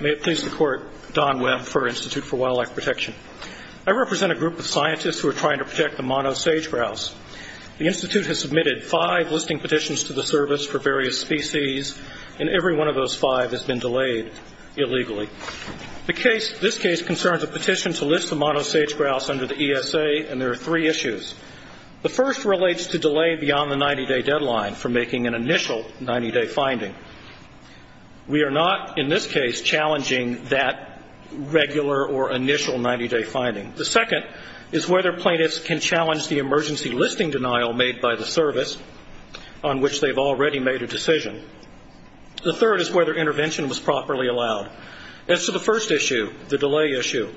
May it please the Court, Don Webb for Institute for Wildlife Protection. I represent a group of scientists who are trying to protect the monosage grouse. The Institute has submitted five listing petitions to the Service for various species, and every one of those five has been delayed illegally. This case concerns a petition to list the monosage grouse under the ESA, and there are three issues. The first relates to delay beyond the 90-day deadline for making an initial 90-day finding. We are not, in this case, challenging that regular or initial 90-day finding. The second is whether plaintiffs can challenge the emergency listing denial made by the Service, on which they've already made a decision. The third is whether intervention was properly allowed. As to the first issue, the delay issue,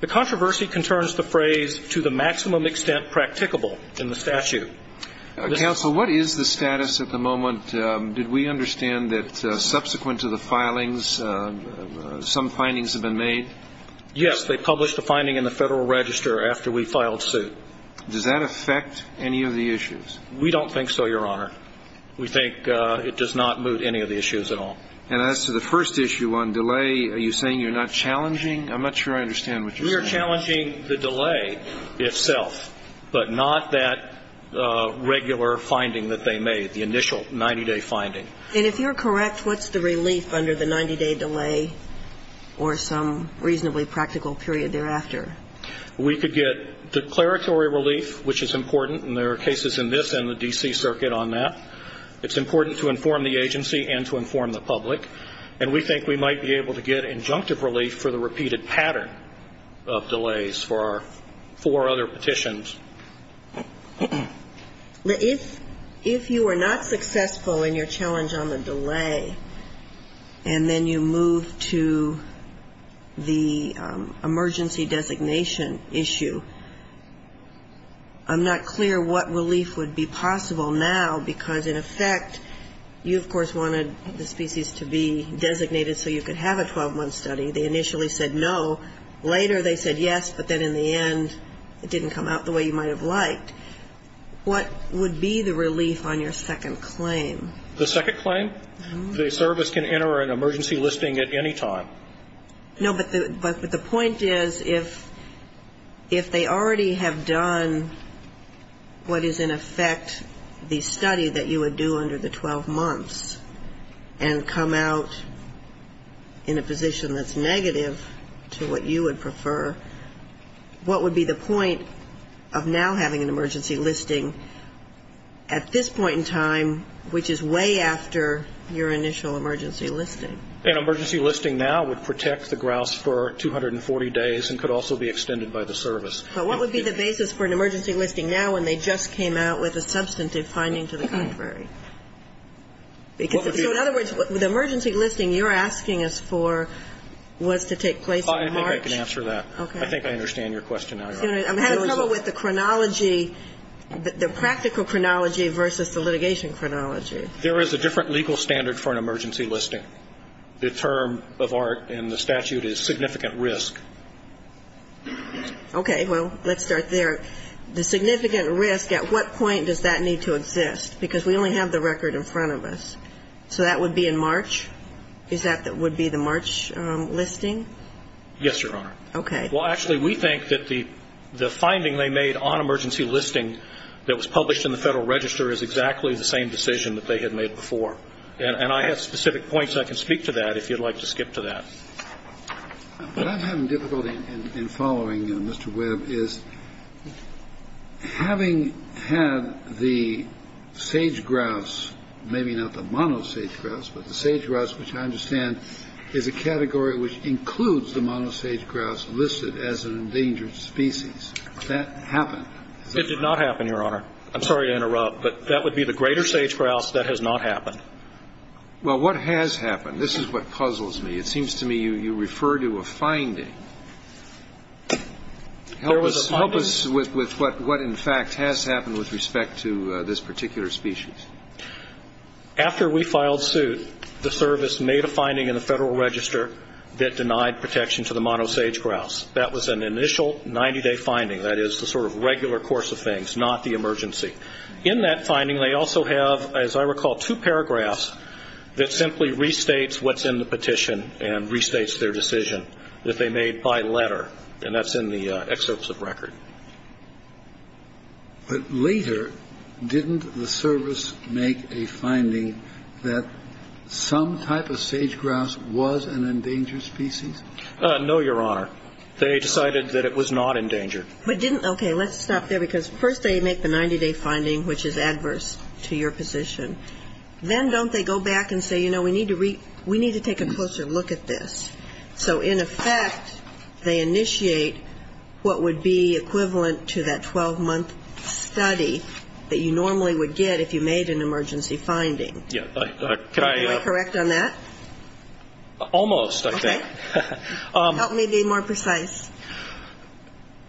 the controversy concerns the phrase to the maximum extent practicable in the statute. Counsel, what is the status at the moment? Did we understand that subsequent to the filings, some findings have been made? Yes, they published a finding in the Federal Register after we filed suit. Does that affect any of the issues? We don't think so, Your Honor. We think it does not move any of the issues at all. And as to the first issue on delay, are you saying you're not challenging? I'm not sure I understand what you're saying. We are challenging the delay itself, but not that regular finding that they made, the initial 90-day finding. And if you're correct, what's the relief under the 90-day delay or some reasonably practical period thereafter? We could get declaratory relief, which is important, and there are cases in this and the D.C. Circuit on that. It's important to inform the agency and to inform the public. And we think we might be able to get injunctive relief for the repeated pattern of delays for our four other petitions. If you are not successful in your challenge on the delay and then you move to the emergency designation issue, I'm not clear what relief would be possible now because, in effect, you, of course, wanted the species to be designated so you could have a 12-month study. They initially said no. Later they said yes, but then in the end it didn't come out the way you might have liked. What would be the relief on your second claim? The second claim? The service can enter an emergency listing at any time. No, but the point is if they already have done what is, in effect, the study that you would do under the 12 months and come out in a position that's negative to what you would prefer, what would be the point of now having an emergency listing at this point in time, which is way after your initial emergency listing? An emergency listing now would protect the grouse for 240 days and could also be extended by the service. But what would be the basis for an emergency listing now when they just came out with a substantive finding to the contrary? So, in other words, the emergency listing you're asking us for was to take place in March. I think I can answer that. Okay. I think I understand your question now, Your Honor. I had a problem with the chronology, the practical chronology versus the litigation chronology. There is a different legal standard for an emergency listing. The term of art in the statute is significant risk. Okay. Well, let's start there. The significant risk, at what point does that need to exist? Because we only have the record in front of us. So that would be in March? Is that what would be the March listing? Yes, Your Honor. Okay. Well, actually, we think that the finding they made on emergency listing that was published in the Federal Register is exactly the same decision that they had made before. And I have specific points. I can speak to that if you'd like to skip to that. What I'm having difficulty in following, Mr. Webb, is having had the sage-grouse, maybe not the mono-sage-grouse, but the sage-grouse, which I understand is a category which includes the mono-sage-grouse listed as an endangered species, that happen? It did not happen, Your Honor. I'm sorry to interrupt, but that would be the greater sage-grouse. That has not happened. Well, what has happened? This is what puzzles me. It seems to me you refer to a finding. Help us with what, in fact, has happened with respect to this particular species. After we filed suit, the service made a finding in the Federal Register that denied protection to the mono-sage-grouse. That was an initial 90-day finding. That is the sort of regular course of things, not the emergency. In that finding, they also have, as I recall, two paragraphs that simply restates what's in the petition and restates their decision that they made by letter, and that's in the excerpts of record. But later, didn't the service make a finding that some type of sage-grouse was an endangered species? No, Your Honor. They decided that it was not endangered. Okay. Let's stop there, because first they make the 90-day finding, which is adverse to your position. Then don't they go back and say, you know, we need to take a closer look at this? So in effect, they initiate what would be equivalent to that 12-month study that you normally would get if you made an emergency finding. Am I correct on that? Almost, I think. Okay. Help me be more precise.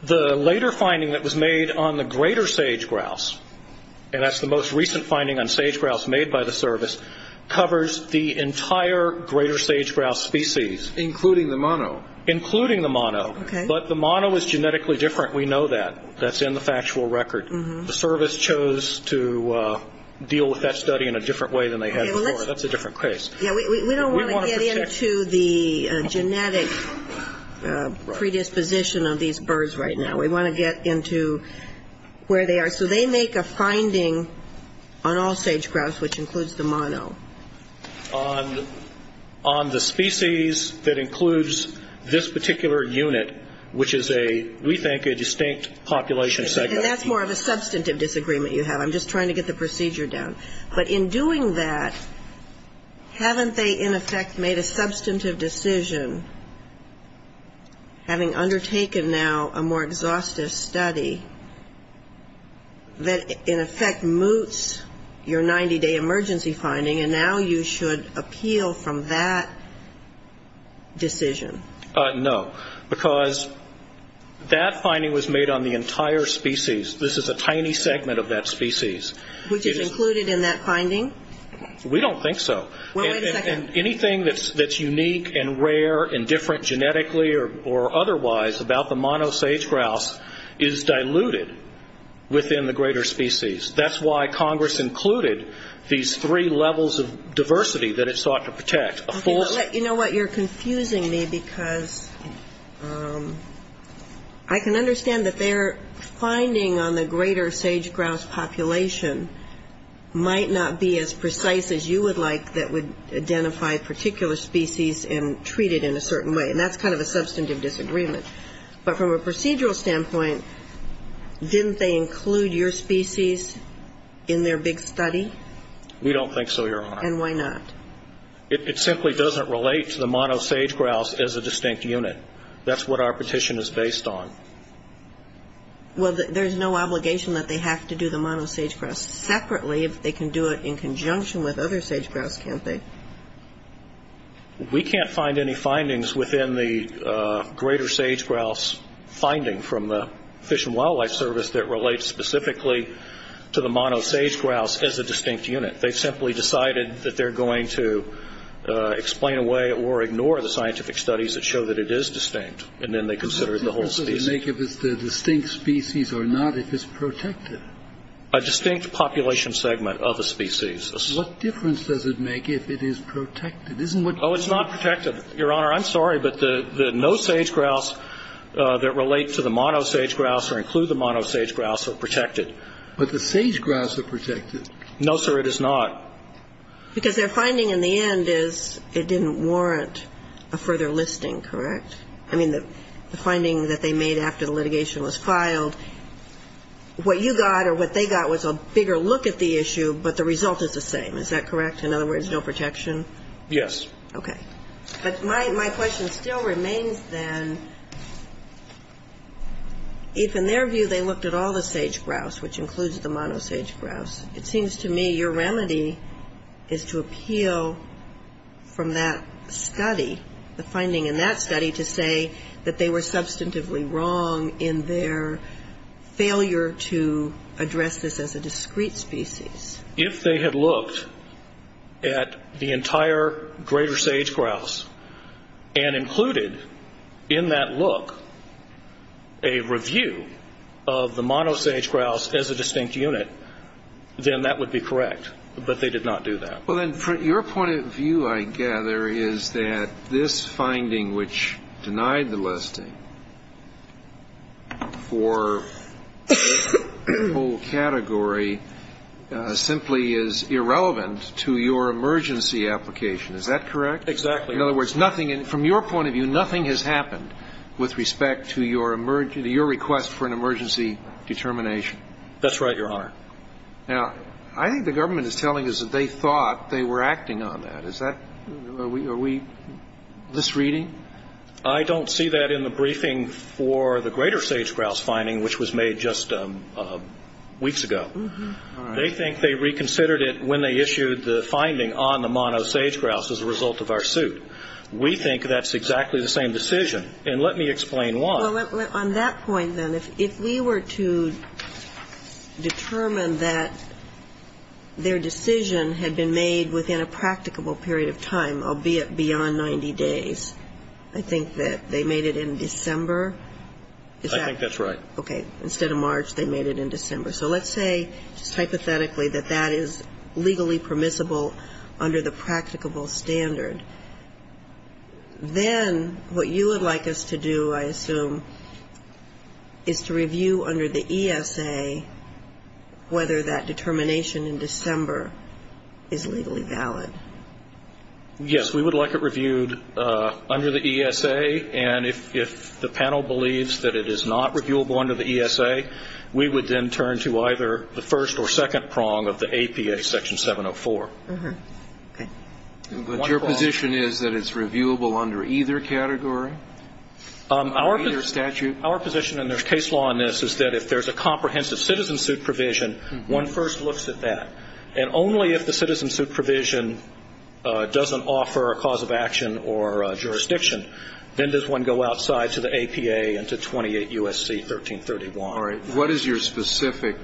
The later finding that was made on the greater sage-grouse, and that's the most recent finding on sage-grouse made by the service, covers the entire greater sage-grouse species. Including the mono. Including the mono. Okay. But the mono is genetically different. We know that. That's in the factual record. The service chose to deal with that study in a different way than they had before. That's a different case. We don't want to get into the genetic predisposition of these birds right now. We want to get into where they are. So they make a finding on all sage-grouse, which includes the mono. On the species that includes this particular unit, which is a, we think, a distinct population segment. And that's more of a substantive disagreement you have. I'm just trying to get the procedure down. But in doing that, haven't they in effect made a substantive decision, having undertaken now a more exhaustive study, that in effect moots your 90-day emergency finding, and now you should appeal from that decision? No. Because that finding was made on the entire species. This is a tiny segment of that species. Which is included in that finding? We don't think so. Well, wait a second. Anything that's unique and rare and different genetically or otherwise about the mono sage-grouse is diluted within the greater species. That's why Congress included these three levels of diversity that it sought to protect. You know what? You're confusing me because I can understand that their finding on the greater sage-grouse population might not be as precise as you would like that would identify a particular species and treat it in a certain way. And that's kind of a substantive disagreement. But from a procedural standpoint, didn't they include your species in their big study? We don't think so, Your Honor. And why not? It simply doesn't relate to the mono sage-grouse as a distinct unit. That's what our petition is based on. Well, there's no obligation that they have to do the mono sage-grouse separately if they can do it in conjunction with other sage-grouse, can't they? We can't find any findings within the greater sage-grouse finding from the Fish and Wildlife Service that relates specifically to the mono sage-grouse as a distinct unit. They simply decided that they're going to explain away or ignore the scientific studies that show that it is distinct, and then they considered the whole species. What difference does it make if it's a distinct species or not if it's protected? A distinct population segment of a species. What difference does it make if it is protected? Oh, it's not protected, Your Honor. I'm sorry, but the no sage-grouse that relate to the mono sage-grouse or include the mono sage-grouse are protected. But the sage-grouse are protected. No, sir, it is not. Because their finding in the end is it didn't warrant a further listing, correct? I mean, the finding that they made after the litigation was filed, what you got or what they got was a bigger look at the issue, but the result is the same. Is that correct? In other words, no protection? Yes. Okay. But my question still remains, then, if in their view they looked at all the sage-grouse, which includes the mono sage-grouse, it seems to me your remedy is to appeal from that study, the finding in that study to say that they were substantively wrong in their failure to address this as a discrete species. If they had looked at the entire greater sage-grouse and included in that look a review of the mono sage-grouse as a distinct unit, then that would be correct. But they did not do that. Well, then, from your point of view, I gather, is that this finding, which denied the listing for the whole category, simply is irrelevant to your emergency application. Is that correct? Exactly. In other words, nothing, from your point of view, nothing has happened with respect to your request for an emergency determination. That's right, Your Honor. Now, I think the government is telling us that they thought they were acting on that. Is that, are we misreading? I don't see that in the briefing for the greater sage-grouse finding, which was made just weeks ago. They think they reconsidered it when they issued the finding on the mono sage-grouse as a result of our suit. We think that's exactly the same decision. And let me explain why. Well, on that point, then, if we were to determine that their decision had been made within a practicable period of time, albeit beyond 90 days, I think that they made it in December. I think that's right. Okay. Instead of March, they made it in December. So let's say, just hypothetically, that that is legally permissible under the practicable standard. Then what you would like us to do, I assume, is to review under the ESA whether that determination in December is legally valid. Yes, we would like it reviewed under the ESA. And if the panel believes that it is not reviewable under the ESA, we would then turn to either the first or second prong of the APA, Section 704. Okay. But your position is that it's reviewable under either category? Under either statute? Our position, and there's case law in this, is that if there's a comprehensive citizen suit provision, one first looks at that. And only if the citizen suit provision doesn't offer a cause of action or jurisdiction, then does one go outside to the APA and to 28 U.S.C. 1331. All right. What is your specific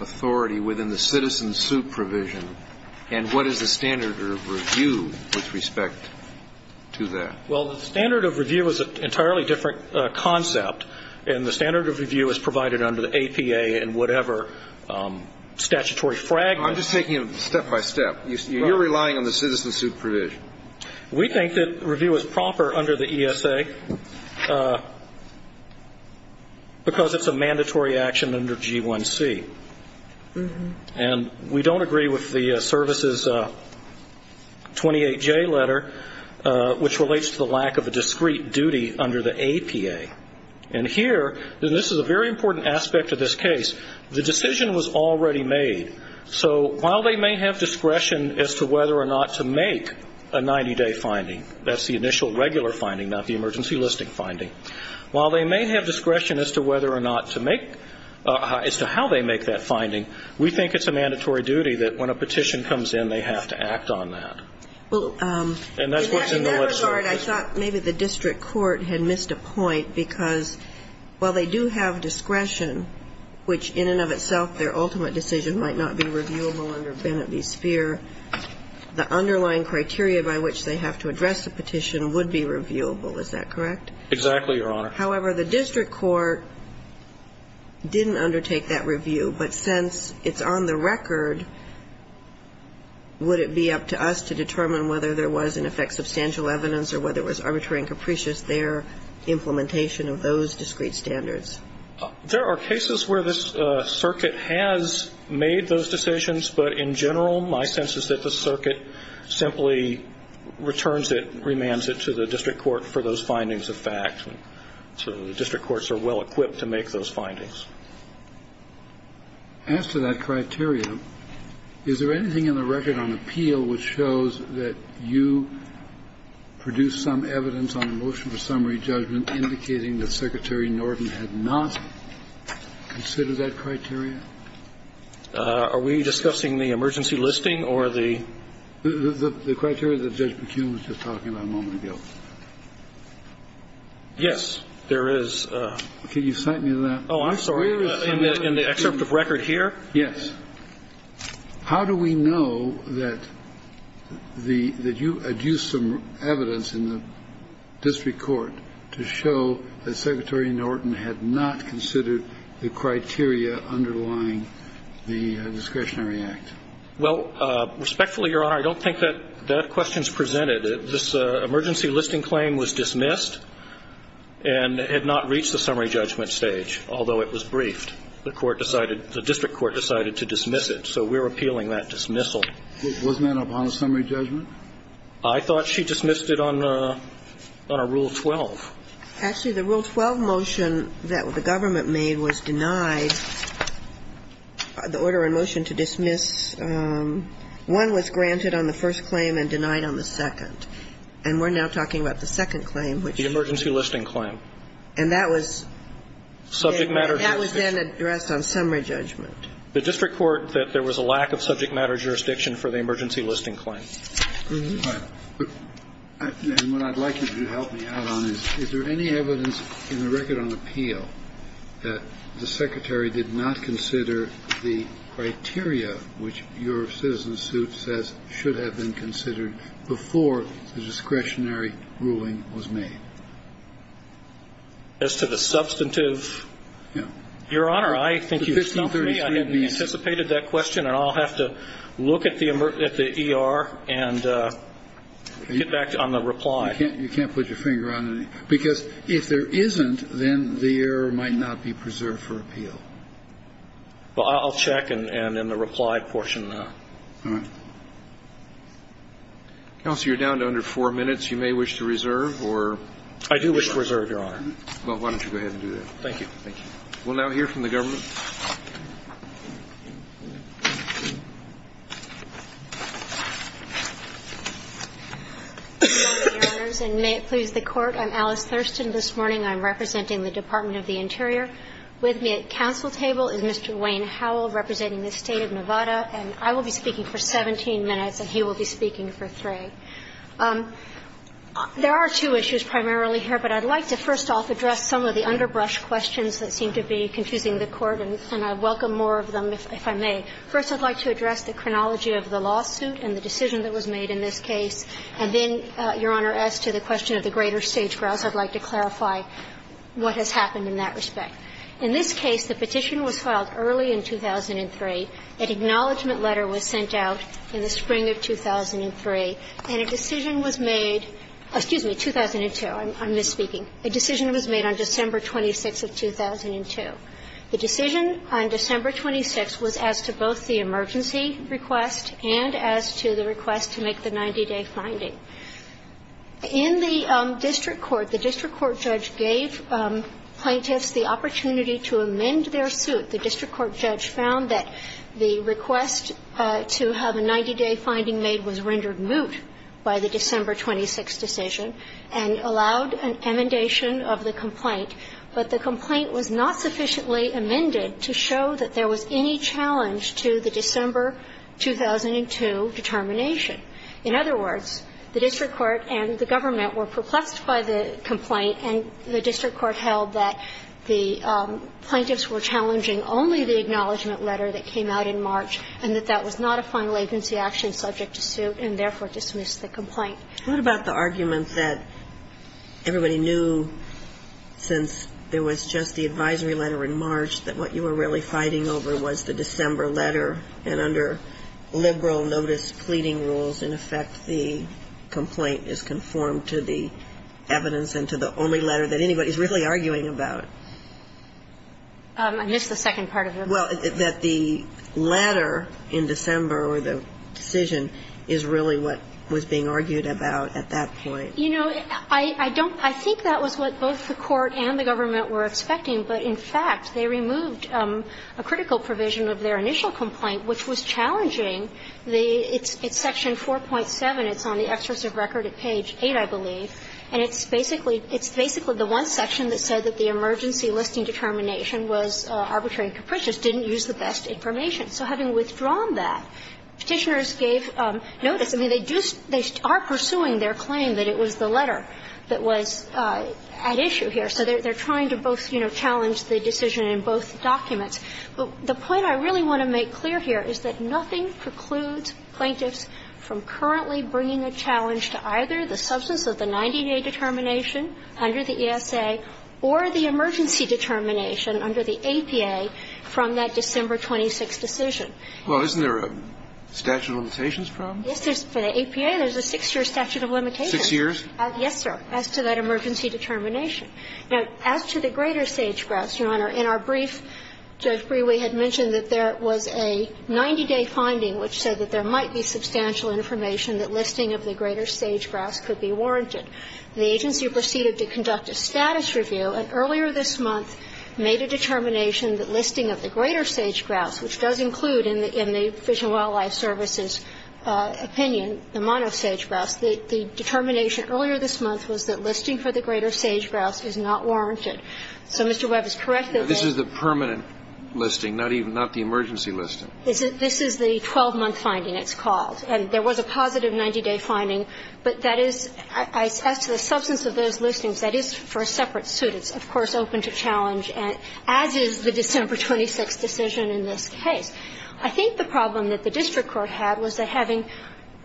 authority within the citizen suit provision? And what is the standard of review with respect to that? Well, the standard of review is an entirely different concept. And the standard of review is provided under the APA in whatever statutory fragment. I'm just taking it step by step. You're relying on the citizen suit provision. We think that review is proper under the ESA because it's a mandatory action under G1C. And we don't agree with the services 28J letter, which relates to the lack of a discrete duty under the APA. And here, and this is a very important aspect of this case, the decision was already made. So while they may have discretion as to whether or not to make a 90-day finding, that's the initial regular finding, not the emergency listing finding. While they may have discretion as to whether or not to make, as to how they make that finding, we think it's a mandatory duty that when a petition comes in, they have to act on that. And that's what's in the letter. In that regard, I thought maybe the district court had missed a point because while they do have discretion, which in and of itself, their ultimate decision might not be reviewable under Bennett v. Speer, the underlying criteria by which they have to address the petition would be reviewable. Is that correct? Exactly, Your Honor. However, the district court didn't undertake that review. But since it's on the record, would it be up to us to determine whether there was, in effect, substantial evidence or whether it was arbitrary and capricious, their implementation of those discrete standards? There are cases where the circuit has made those decisions, but in general my sense is that the circuit simply returns it, remands it to the district court for those findings of fact. So the district courts are well-equipped to make those findings. As to that criteria, is there anything in the record on appeal which shows that you produced some evidence on a motion for summary judgment indicating that Secretary Norton had not considered that criteria? Are we discussing the emergency listing or the? The criteria that Judge McCune was just talking about a moment ago. Yes, there is. Can you cite me to that? Oh, I'm sorry. In the excerpt of record here? Yes. How do we know that the you had used some evidence in the district court to show that Secretary Norton had not considered the criteria underlying the discretionary act? Well, respectfully, Your Honor, I don't think that that question is presented. This emergency listing claim was dismissed and had not reached the summary judgment stage, although it was briefed. The court decided, the district court decided to dismiss it, so we're appealing that dismissal. Wasn't that upon a summary judgment? I thought she dismissed it on a Rule 12. Actually, the Rule 12 motion that the government made was denied, the order in motion to dismiss. One was granted on the first claim and denied on the second. And we're now talking about the second claim. The emergency listing claim. And that was? Subject matter jurisdiction. That was then addressed on summary judgment. The district court that there was a lack of subject matter jurisdiction for the emergency listing claim. And what I'd like you to help me out on is, is there any evidence in the record on appeal that the Secretary did not consider the criteria which your citizen suit says should have been considered before the discretionary ruling was made? As to the substantive? Your Honor, I think you've stumped me. I hadn't anticipated that question, and I'll have to look at the ER and get back on the reply. You can't put your finger on it. Because if there isn't, then the error might not be preserved for appeal. Well, I'll check in the reply portion, though. All right. Counsel, you're down to under 4 minutes. You may wish to reserve or? I do wish to reserve, Your Honor. Well, why don't you go ahead and do that. Thank you. Thank you. We'll now hear from the government. Good morning, Your Honors, and may it please the Court. I'm Alice Thurston. This morning I'm representing the Department of the Interior. With me at council table is Mr. Wayne Howell, representing the State of Nevada. And I will be speaking for 17 minutes, and he will be speaking for 3. There are two issues primarily here, but I'd like to first off address some of the underbrush questions that seem to be confusing the Court, and I welcome more of them if I may. First, I'd like to address the chronology of the lawsuit and the decision that was made in this case. And then, Your Honor, as to the question of the greater sage-grouse, I'd like to clarify what has happened in that respect. In this case, the petition was filed early in 2003. An acknowledgement letter was sent out in the spring of 2003, and a decision was made – excuse me, 2002. I'm misspeaking. A decision was made on December 26th of 2002. The decision on December 26th was as to both the emergency request and as to the request to make the 90-day finding. In the district court, the district court judge gave plaintiffs the opportunity to amend their suit. The district court judge found that the request to have a 90-day finding made was rendered moot by the December 26 decision and allowed an amendation of the complaint, but the complaint was not sufficiently amended to show that there was any challenge to the December 2002 determination. In other words, the district court and the government were perplexed by the complaint, And the district court held that the plaintiffs were challenging only the acknowledgement letter that came out in March and that that was not a final agency action subject to suit and therefore dismissed the complaint. What about the argument that everybody knew since there was just the advisory letter in March that what you were really fighting over was the December letter and under liberal notice pleading rules, in effect, the complaint is conformed to the evidence and to the only letter that anybody is really arguing about? I missed the second part of it. Well, that the letter in December or the decision is really what was being argued about at that point. You know, I don't think that was what both the court and the government were expecting, but in fact, they removed a critical provision of their initial complaint, which was challenging the its section 4.7. It's on the exercise of record at page 8, I believe, and it's basically, it's basically the one section that said that the emergency listing determination was arbitrary and capricious, didn't use the best information. So having withdrawn that, Petitioners gave notice. I mean, they do, they are pursuing their claim that it was the letter that was at issue here. So they're trying to both, you know, challenge the decision in both documents. But the point I really want to make clear here is that nothing precludes plaintiffs from currently bringing a challenge to either the substance of the 90-day determination under the ESA or the emergency determination under the APA from that December 26 decision. Well, isn't there a statute of limitations problem? Yes, there's, for the APA, there's a six-year statute of limitations. Six years? Yes, sir, as to that emergency determination. Now, as to the greater sage-grouse, Your Honor, in our brief, Judge Brewer had mentioned that there was a 90-day finding which said that there might be substantial information that listing of the greater sage-grouse could be warranted. The agency proceeded to conduct a status review, and earlier this month made a determination that listing of the greater sage-grouse, which does include in the Fish and Wildlife Service's opinion the monosage-grouse, the determination earlier this month was that the greater sage-grouse is not warranted. So Mr. Webb is correct that this is the permanent listing, not even the emergency listing. This is the 12-month finding, it's called. And there was a positive 90-day finding, but that is, as to the substance of those listings, that is for a separate suit. It's, of course, open to challenge, as is the December 26 decision in this case. I think the problem that the district court had was that having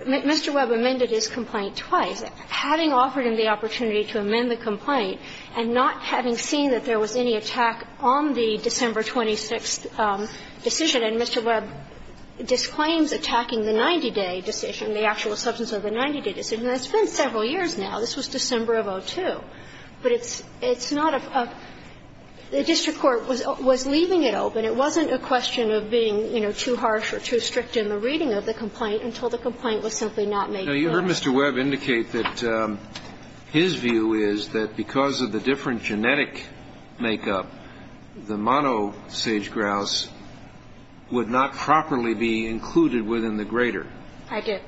Mr. Webb amended his complaint twice, having offered him the opportunity to amend the complaint and not having seen that there was any attack on the December 26 decision, and Mr. Webb disclaims attacking the 90-day decision, the actual substance of the 90-day decision. And it's been several years now. This was December of 2002. But it's not a – the district court was leaving it open. It wasn't a question of being, you know, too harsh or too strict in the reading of the complaint until the complaint was simply not made public. Kennedy, you heard Mr. Webb indicate that his view is that because of the different genetic makeup, the monosage grouse would not properly be included within the grader. I did.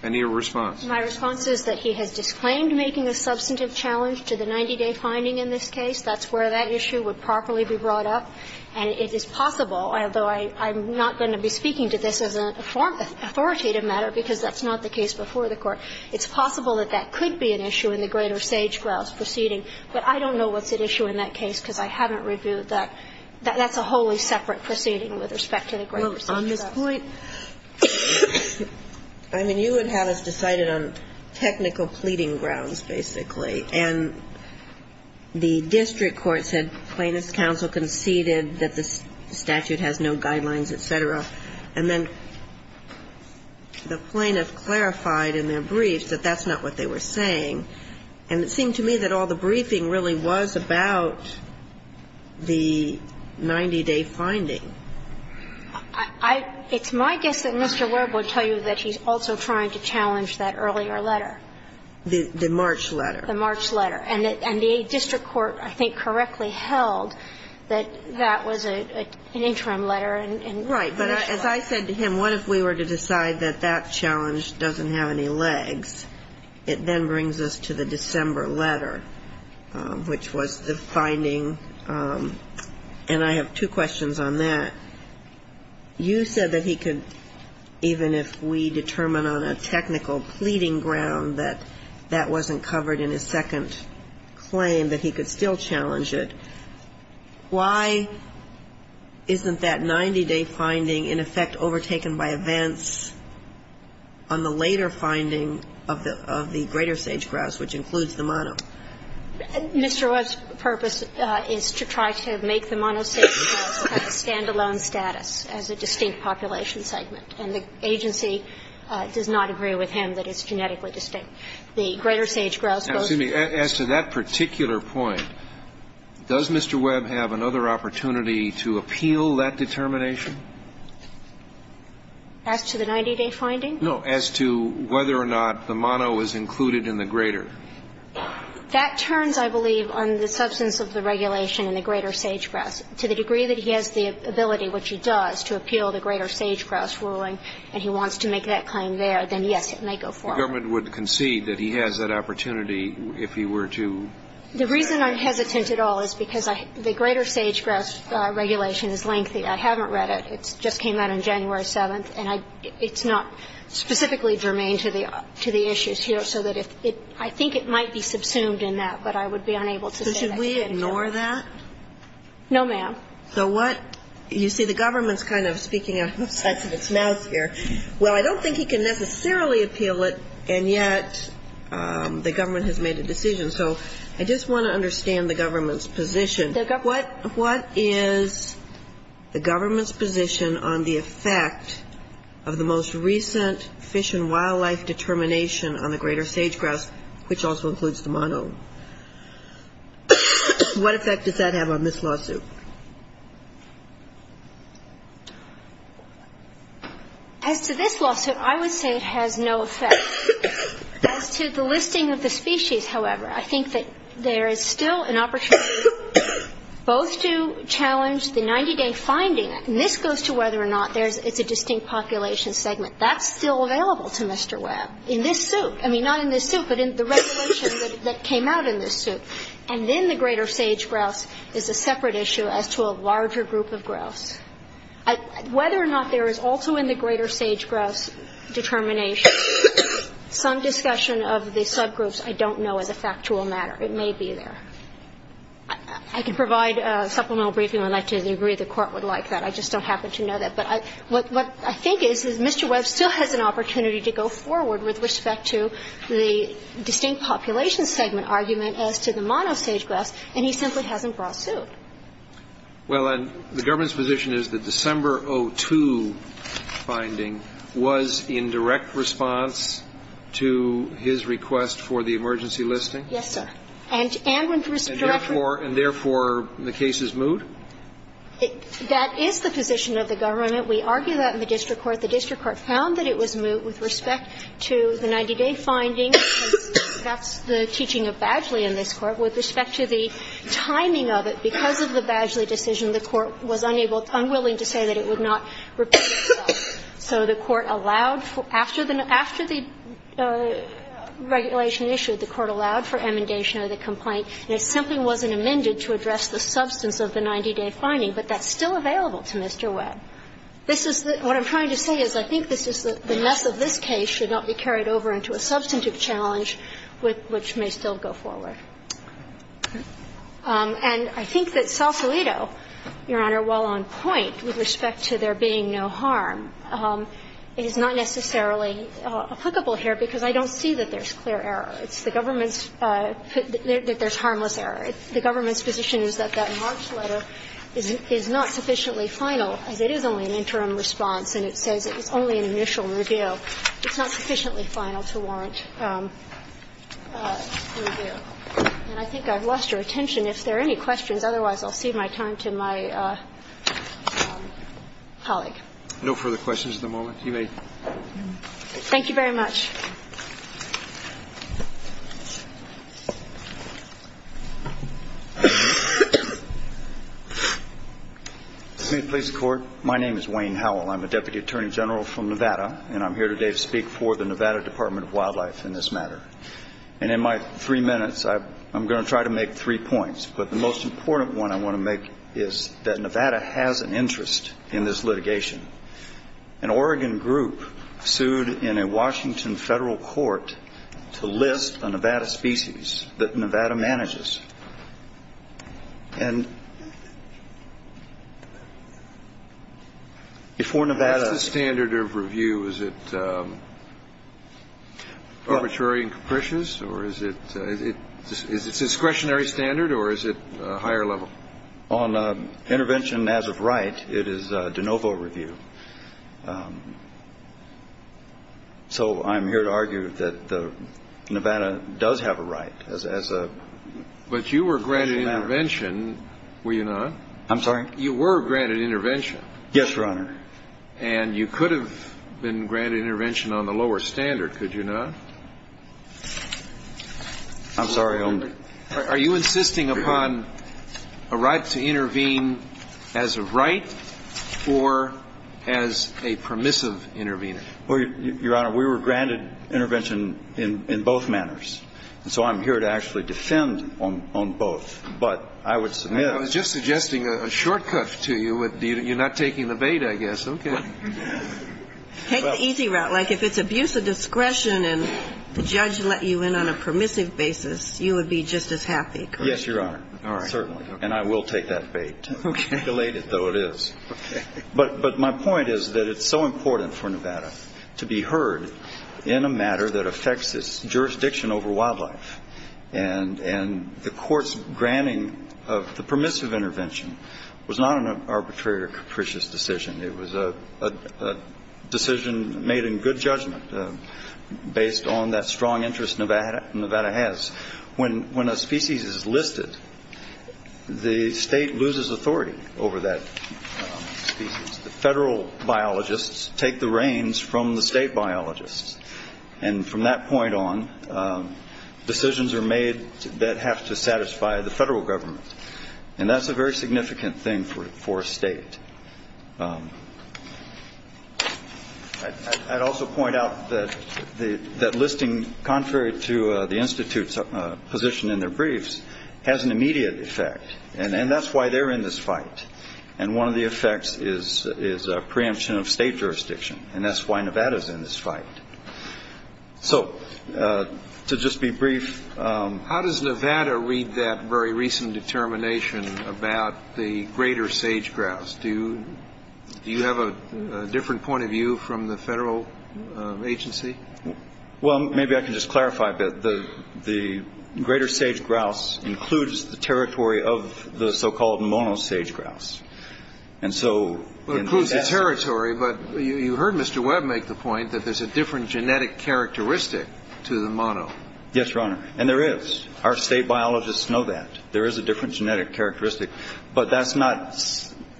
Any response? My response is that he has disclaimed making a substantive challenge to the 90-day finding in this case. That's where that issue would properly be brought up. And it is possible, although I'm not going to be speaking to this as an authoritative matter because that's not the case before the Court, it's possible that that could be an issue in the greater sage grouse proceeding, but I don't know what's at issue in that case because I haven't reviewed that. That's a wholly separate proceeding with respect to the greater sage grouse. Well, on this point, I mean, you would have us decided on technical pleading grounds, basically. And the district court said plaintiff's counsel conceded that the statute has no guidelines, et cetera. And then the plaintiff clarified in their brief that that's not what they were saying. And it seemed to me that all the briefing really was about the 90-day finding. It's my guess that Mr. Webb would tell you that he's also trying to challenge that earlier letter. The March letter. The March letter. And the district court, I think, correctly held that that was an interim letter and initial. Right. But as I said to him, what if we were to decide that that challenge doesn't have any legs? It then brings us to the December letter, which was the finding. And I have two questions on that. You said that he could, even if we determine on a technical pleading ground that that wasn't covered in his second claim, that he could still challenge it. Why isn't that 90-day finding, in effect, overtaken by events on the later finding of the greater sage-grouse, which includes the mono? Mr. Webb's purpose is to try to make the mono sage-grouse have a standalone status as a distinct population segment. And the agency does not agree with him that it's genetically distinct. The greater sage-grouse goes to the greater sage-grouse. Now, excuse me. As to that particular point, does Mr. Webb have another opportunity to appeal that determination? As to the 90-day finding? No, as to whether or not the mono is included in the greater. That turns, I believe, on the substance of the regulation in the greater sage-grouse. To the degree that he has the ability, which he does, to appeal the greater sage-grouse ruling, and he wants to make that claim there, then, yes, it may go forward. The government would concede that he has that opportunity if he were to? The reason I'm hesitant at all is because the greater sage-grouse regulation is lengthy. I haven't read it. It just came out on January 7th. And it's not specifically germane to the issues here. So that if it – I think it might be subsumed in that, but I would be unable to say that today. So should we ignore that? No, ma'am. So what – you see the government's kind of speaking outside of its mouth here. Well, I don't think he can necessarily appeal it, and yet the government has made a decision. So I just want to understand the government's position. What is the government's position on the effect of the most recent fish and wildlife determination on the greater sage-grouse, which also includes the mono? What effect does that have on this lawsuit? As to this lawsuit, I would say it has no effect. As to the listing of the species, however, I think that there is still an opportunity both to challenge the 90-day finding, and this goes to whether or not it's a distinct population segment. That's still available to Mr. Webb in this suit. I mean, not in this suit, but in the regulation that came out in this suit. And then the greater sage-grouse is a separate issue as to a larger group of grouse. Whether or not there is also in the greater sage-grouse determination some discussion of the subgroups, I don't know as a factual matter. It may be there. I can provide a supplemental briefing when I'd like to. I agree the Court would like that. I just don't happen to know that. But what I think is, is Mr. Webb still has an opportunity to go forward with respect to the distinct population segment argument as to the monosage-grouse, and he simply hasn't brought a suit. Well, and the government's position is that December 2002 finding was in direct response to his request for the emergency listing? Yes, sir. And when the Director And therefore the case is moot? That is the position of the government. We argue that in the district court. But the district court found that it was moot with respect to the 90-day finding. That's the teaching of Badgley in this Court. With respect to the timing of it, because of the Badgley decision, the Court was unable to, unwilling to say that it would not repeat itself. So the Court allowed for, after the, after the regulation issued, the Court allowed for emendation of the complaint. And it simply wasn't amended to address the substance of the 90-day finding. But that's still available to Mr. Webb. This is the, what I'm trying to say is I think this is the mess of this case should not be carried over into a substantive challenge with which may still go forward. And I think that Sausalito, Your Honor, while on point with respect to there being no harm, it is not necessarily applicable here, because I don't see that there's clear error. It's the government's, that there's harmless error. The government's position is that that March letter is not sufficiently final, as it is only an interim response, and it says it's only an initial review. It's not sufficiently final to warrant review. And I think I've lost your attention. If there are any questions, otherwise I'll cede my time to my colleague. No further questions at the moment. You may. Thank you very much. Please be seated. Good evening, police and court. My name is Wayne Howell. I'm a Deputy Attorney General from Nevada, and I'm here today to speak for the Nevada Department of Wildlife in this matter. And in my three minutes, I'm going to try to make three points, but the most important one I want to make is that Nevada has an interest in this litigation. An Oregon group sued in a Washington federal court to list a Nevada species that Nevada manages. And before Nevada. What's the standard of review? Is it arbitrary and capricious, or is it discretionary standard, or is it higher level? On intervention as of right, it is de novo review. So I'm here to argue that Nevada does have a right as a. But you were granted intervention, were you not? I'm sorry? You were granted intervention. Yes, Your Honor. And you could have been granted intervention on the lower standard, could you not? I'm sorry. Are you insisting upon a right to intervene as of right, or as a permissive intervener? Your Honor, we were granted intervention in both manners. And so I'm here to actually defend on both. But I would submit. I was just suggesting a shortcut to you. You're not taking the bait, I guess. Okay. Take the easy route. Like if it's abuse of discretion and the judge let you in on a permissive basis, you would be just as happy, correct? Yes, Your Honor. Certainly. And I will take that bait. Okay. Delayed it, though it is. Okay. But my point is that it's so important for Nevada to be heard in a matter that affects its jurisdiction over wildlife. And the court's granting of the permissive intervention was not an arbitrary or capricious decision. It was a decision made in good judgment based on that strong interest Nevada has. When a species is listed, the state loses authority over that species. The federal biologists take the reins from the state biologists. And from that point on, decisions are made that have to satisfy the federal government. And that's a very significant thing for a state. I'd also point out that the that listing, contrary to the Institute's position in their briefs, has an immediate effect. And that's why they're in this fight. And one of the effects is is a preemption of state jurisdiction. And that's why Nevada is in this fight. So, to just be brief. How does Nevada read that very recent determination about the greater sage grouse? Do you have a different point of view from the federal agency? Well, maybe I can just clarify a bit. The greater sage grouse includes the territory of the so-called mono sage grouse. It includes the territory. But you heard Mr. Webb make the point that there's a different genetic characteristic to the mono. Yes, Your Honor. And there is. Our state biologists know that. There is a different genetic characteristic. But that's not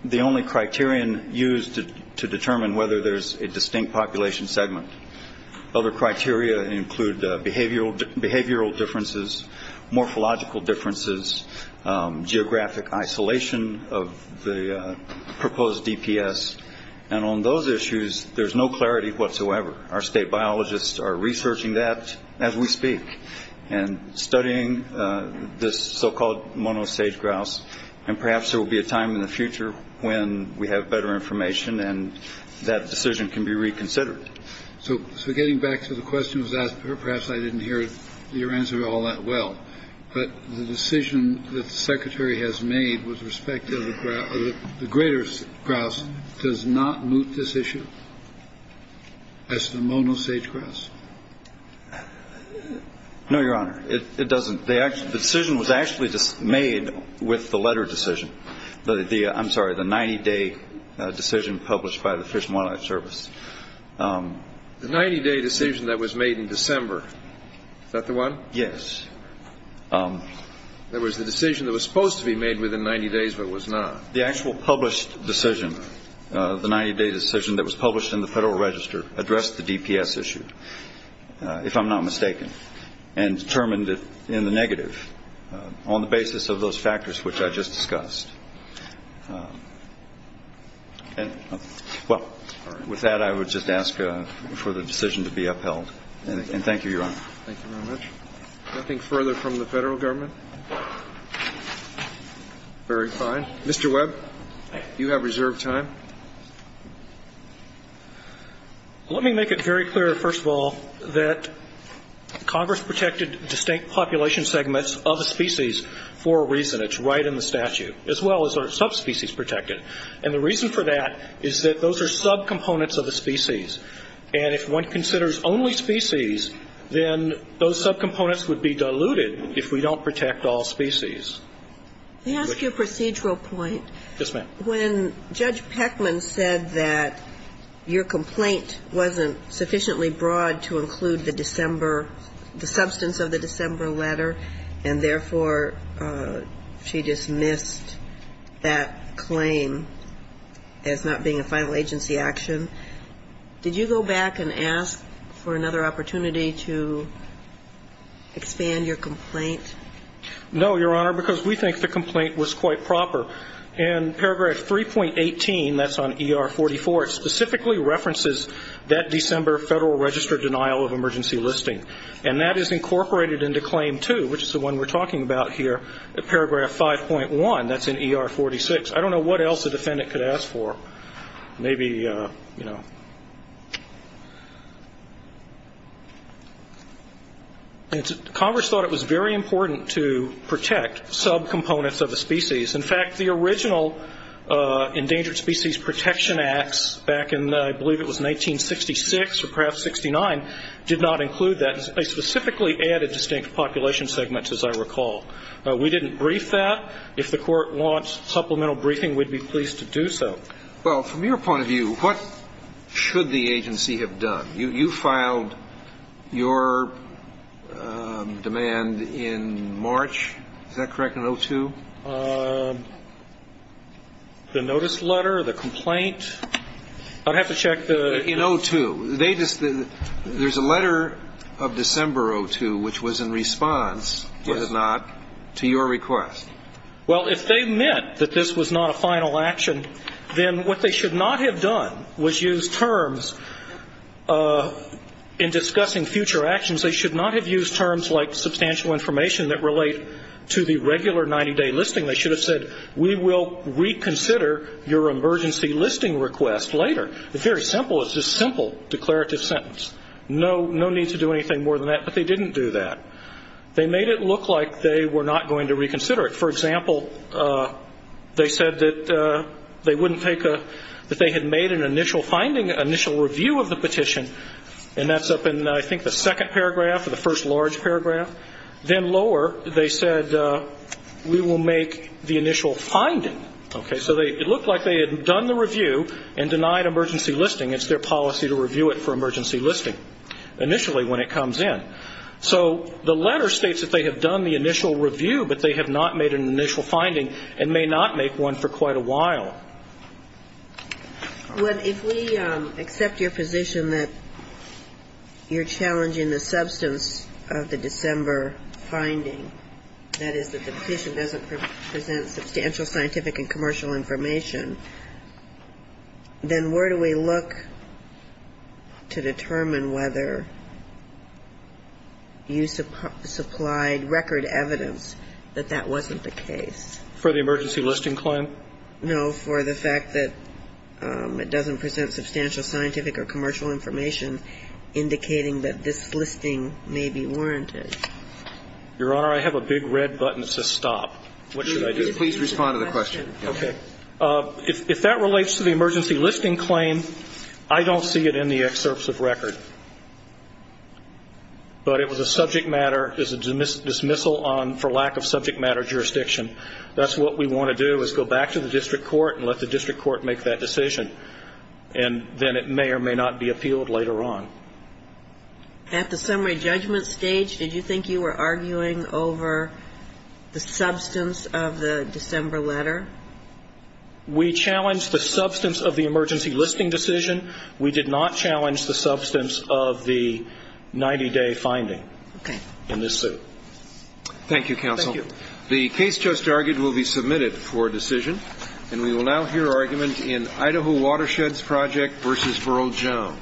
the only criterion used to determine whether there's a distinct population segment. Other criteria include behavioral differences, morphological differences, geographic isolation of the proposed DPS. And on those issues, there's no clarity whatsoever. Our state biologists are researching that as we speak and studying this so-called mono sage grouse. And perhaps there will be a time in the future when we have better information and that decision can be reconsidered. So we're getting back to the question was asked. Perhaps I didn't hear your answer all that well. But the decision that the secretary has made with respect to the greater grouse does not move this issue as the mono sage grouse. No, Your Honor. It doesn't. The decision was actually made with the letter decision. I'm sorry, the 90-day decision published by the Fish and Wildlife Service. The 90-day decision that was made in December. Is that the one? Yes. That was the decision that was supposed to be made within 90 days but was not. The actual published decision, the 90-day decision that was published in the Federal Register, addressed the DPS issue, if I'm not mistaken, and determined it in the negative on the basis of those factors which I just discussed. Well, with that, I would just ask for the decision to be upheld. And thank you, Your Honor. Thank you very much. Nothing further from the Federal Government? Very fine. Mr. Webb, you have reserved time. Let me make it very clear, first of all, that Congress protected distinct population segments of a species for a reason. It's right in the statute, as well as are subspecies protected. And the reason for that is that those are subcomponents of the species. And if one considers only species, then those subcomponents would be diluted if we don't protect all species. May I ask you a procedural point? Yes, ma'am. When Judge Peckman said that your complaint wasn't sufficiently broad to include the December, the substance of the December letter, and therefore she dismissed that claim as not being a final agency action, did you go back and ask for another opportunity to expand your complaint? No, Your Honor, because we think the complaint was quite proper. In Paragraph 3.18, that's on ER 44, it specifically references that December Federal Register denial of emergency listing. And that is incorporated into Claim 2, which is the one we're talking about here, in Paragraph 5.1. That's in ER 46. I don't know what else a defendant could ask for. Maybe, you know. Congress thought it was very important to protect subcomponents of a species. In fact, the original Endangered Species Protection Acts back in, I believe it was 1966 or perhaps 1969, did not include that. They specifically added distinct population segments, as I recall. We didn't brief that. If the Court wants supplemental briefing, we'd be pleased to do so. Well, from your point of view, what should the agency have done? You filed your demand in March. Is that correct, in 02? The notice letter, the complaint. I'd have to check the. In 02. There's a letter of December 02, which was in response, was it not, to your request. Well, if they meant that this was not a final action, then what they should not have done was use terms in discussing future actions. They should not have used terms like substantial information that relate to the regular 90-day listing. They should have said, we will reconsider your emergency listing request later. It's very simple. It's a simple declarative sentence. No need to do anything more than that. But they didn't do that. They made it look like they were not going to reconsider it. For example, they said that they wouldn't take a, that they had made an initial finding, initial review of the petition, and that's up in, I think, the second paragraph or the first large paragraph. Then lower, they said, we will make the initial finding. Okay. So it looked like they had done the review and denied emergency listing. It's their policy to review it for emergency listing initially when it comes in. So the letter states that they have done the initial review, but they have not made an initial finding and may not make one for quite a while. Well, if we accept your position that you're challenging the substance of the December finding, that is that the petition doesn't present substantial scientific and commercial information, then where do we look to determine whether you supplied record evidence that that wasn't the case? For the emergency listing claim? No, for the fact that it doesn't present substantial scientific or commercial information indicating that this listing may be warranted. Your Honor, I have a big red button to stop. What should I do? Please respond to the question. Okay. If that relates to the emergency listing claim, I don't see it in the excerpts of record. But it was a subject matter, it was a dismissal for lack of subject matter jurisdiction. That's what we want to do is go back to the district court and let the district court make that decision. And then it may or may not be appealed later on. At the summary judgment stage, did you think you were arguing over the substance of the December letter? We challenged the substance of the emergency listing decision. We did not challenge the substance of the 90-day finding in this suit. Okay. Thank you, counsel. Thank you. The case just argued will be submitted for decision. And we will now hear argument in Idaho Watersheds Project v. Burrell-Jones.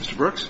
Mr. Brooks.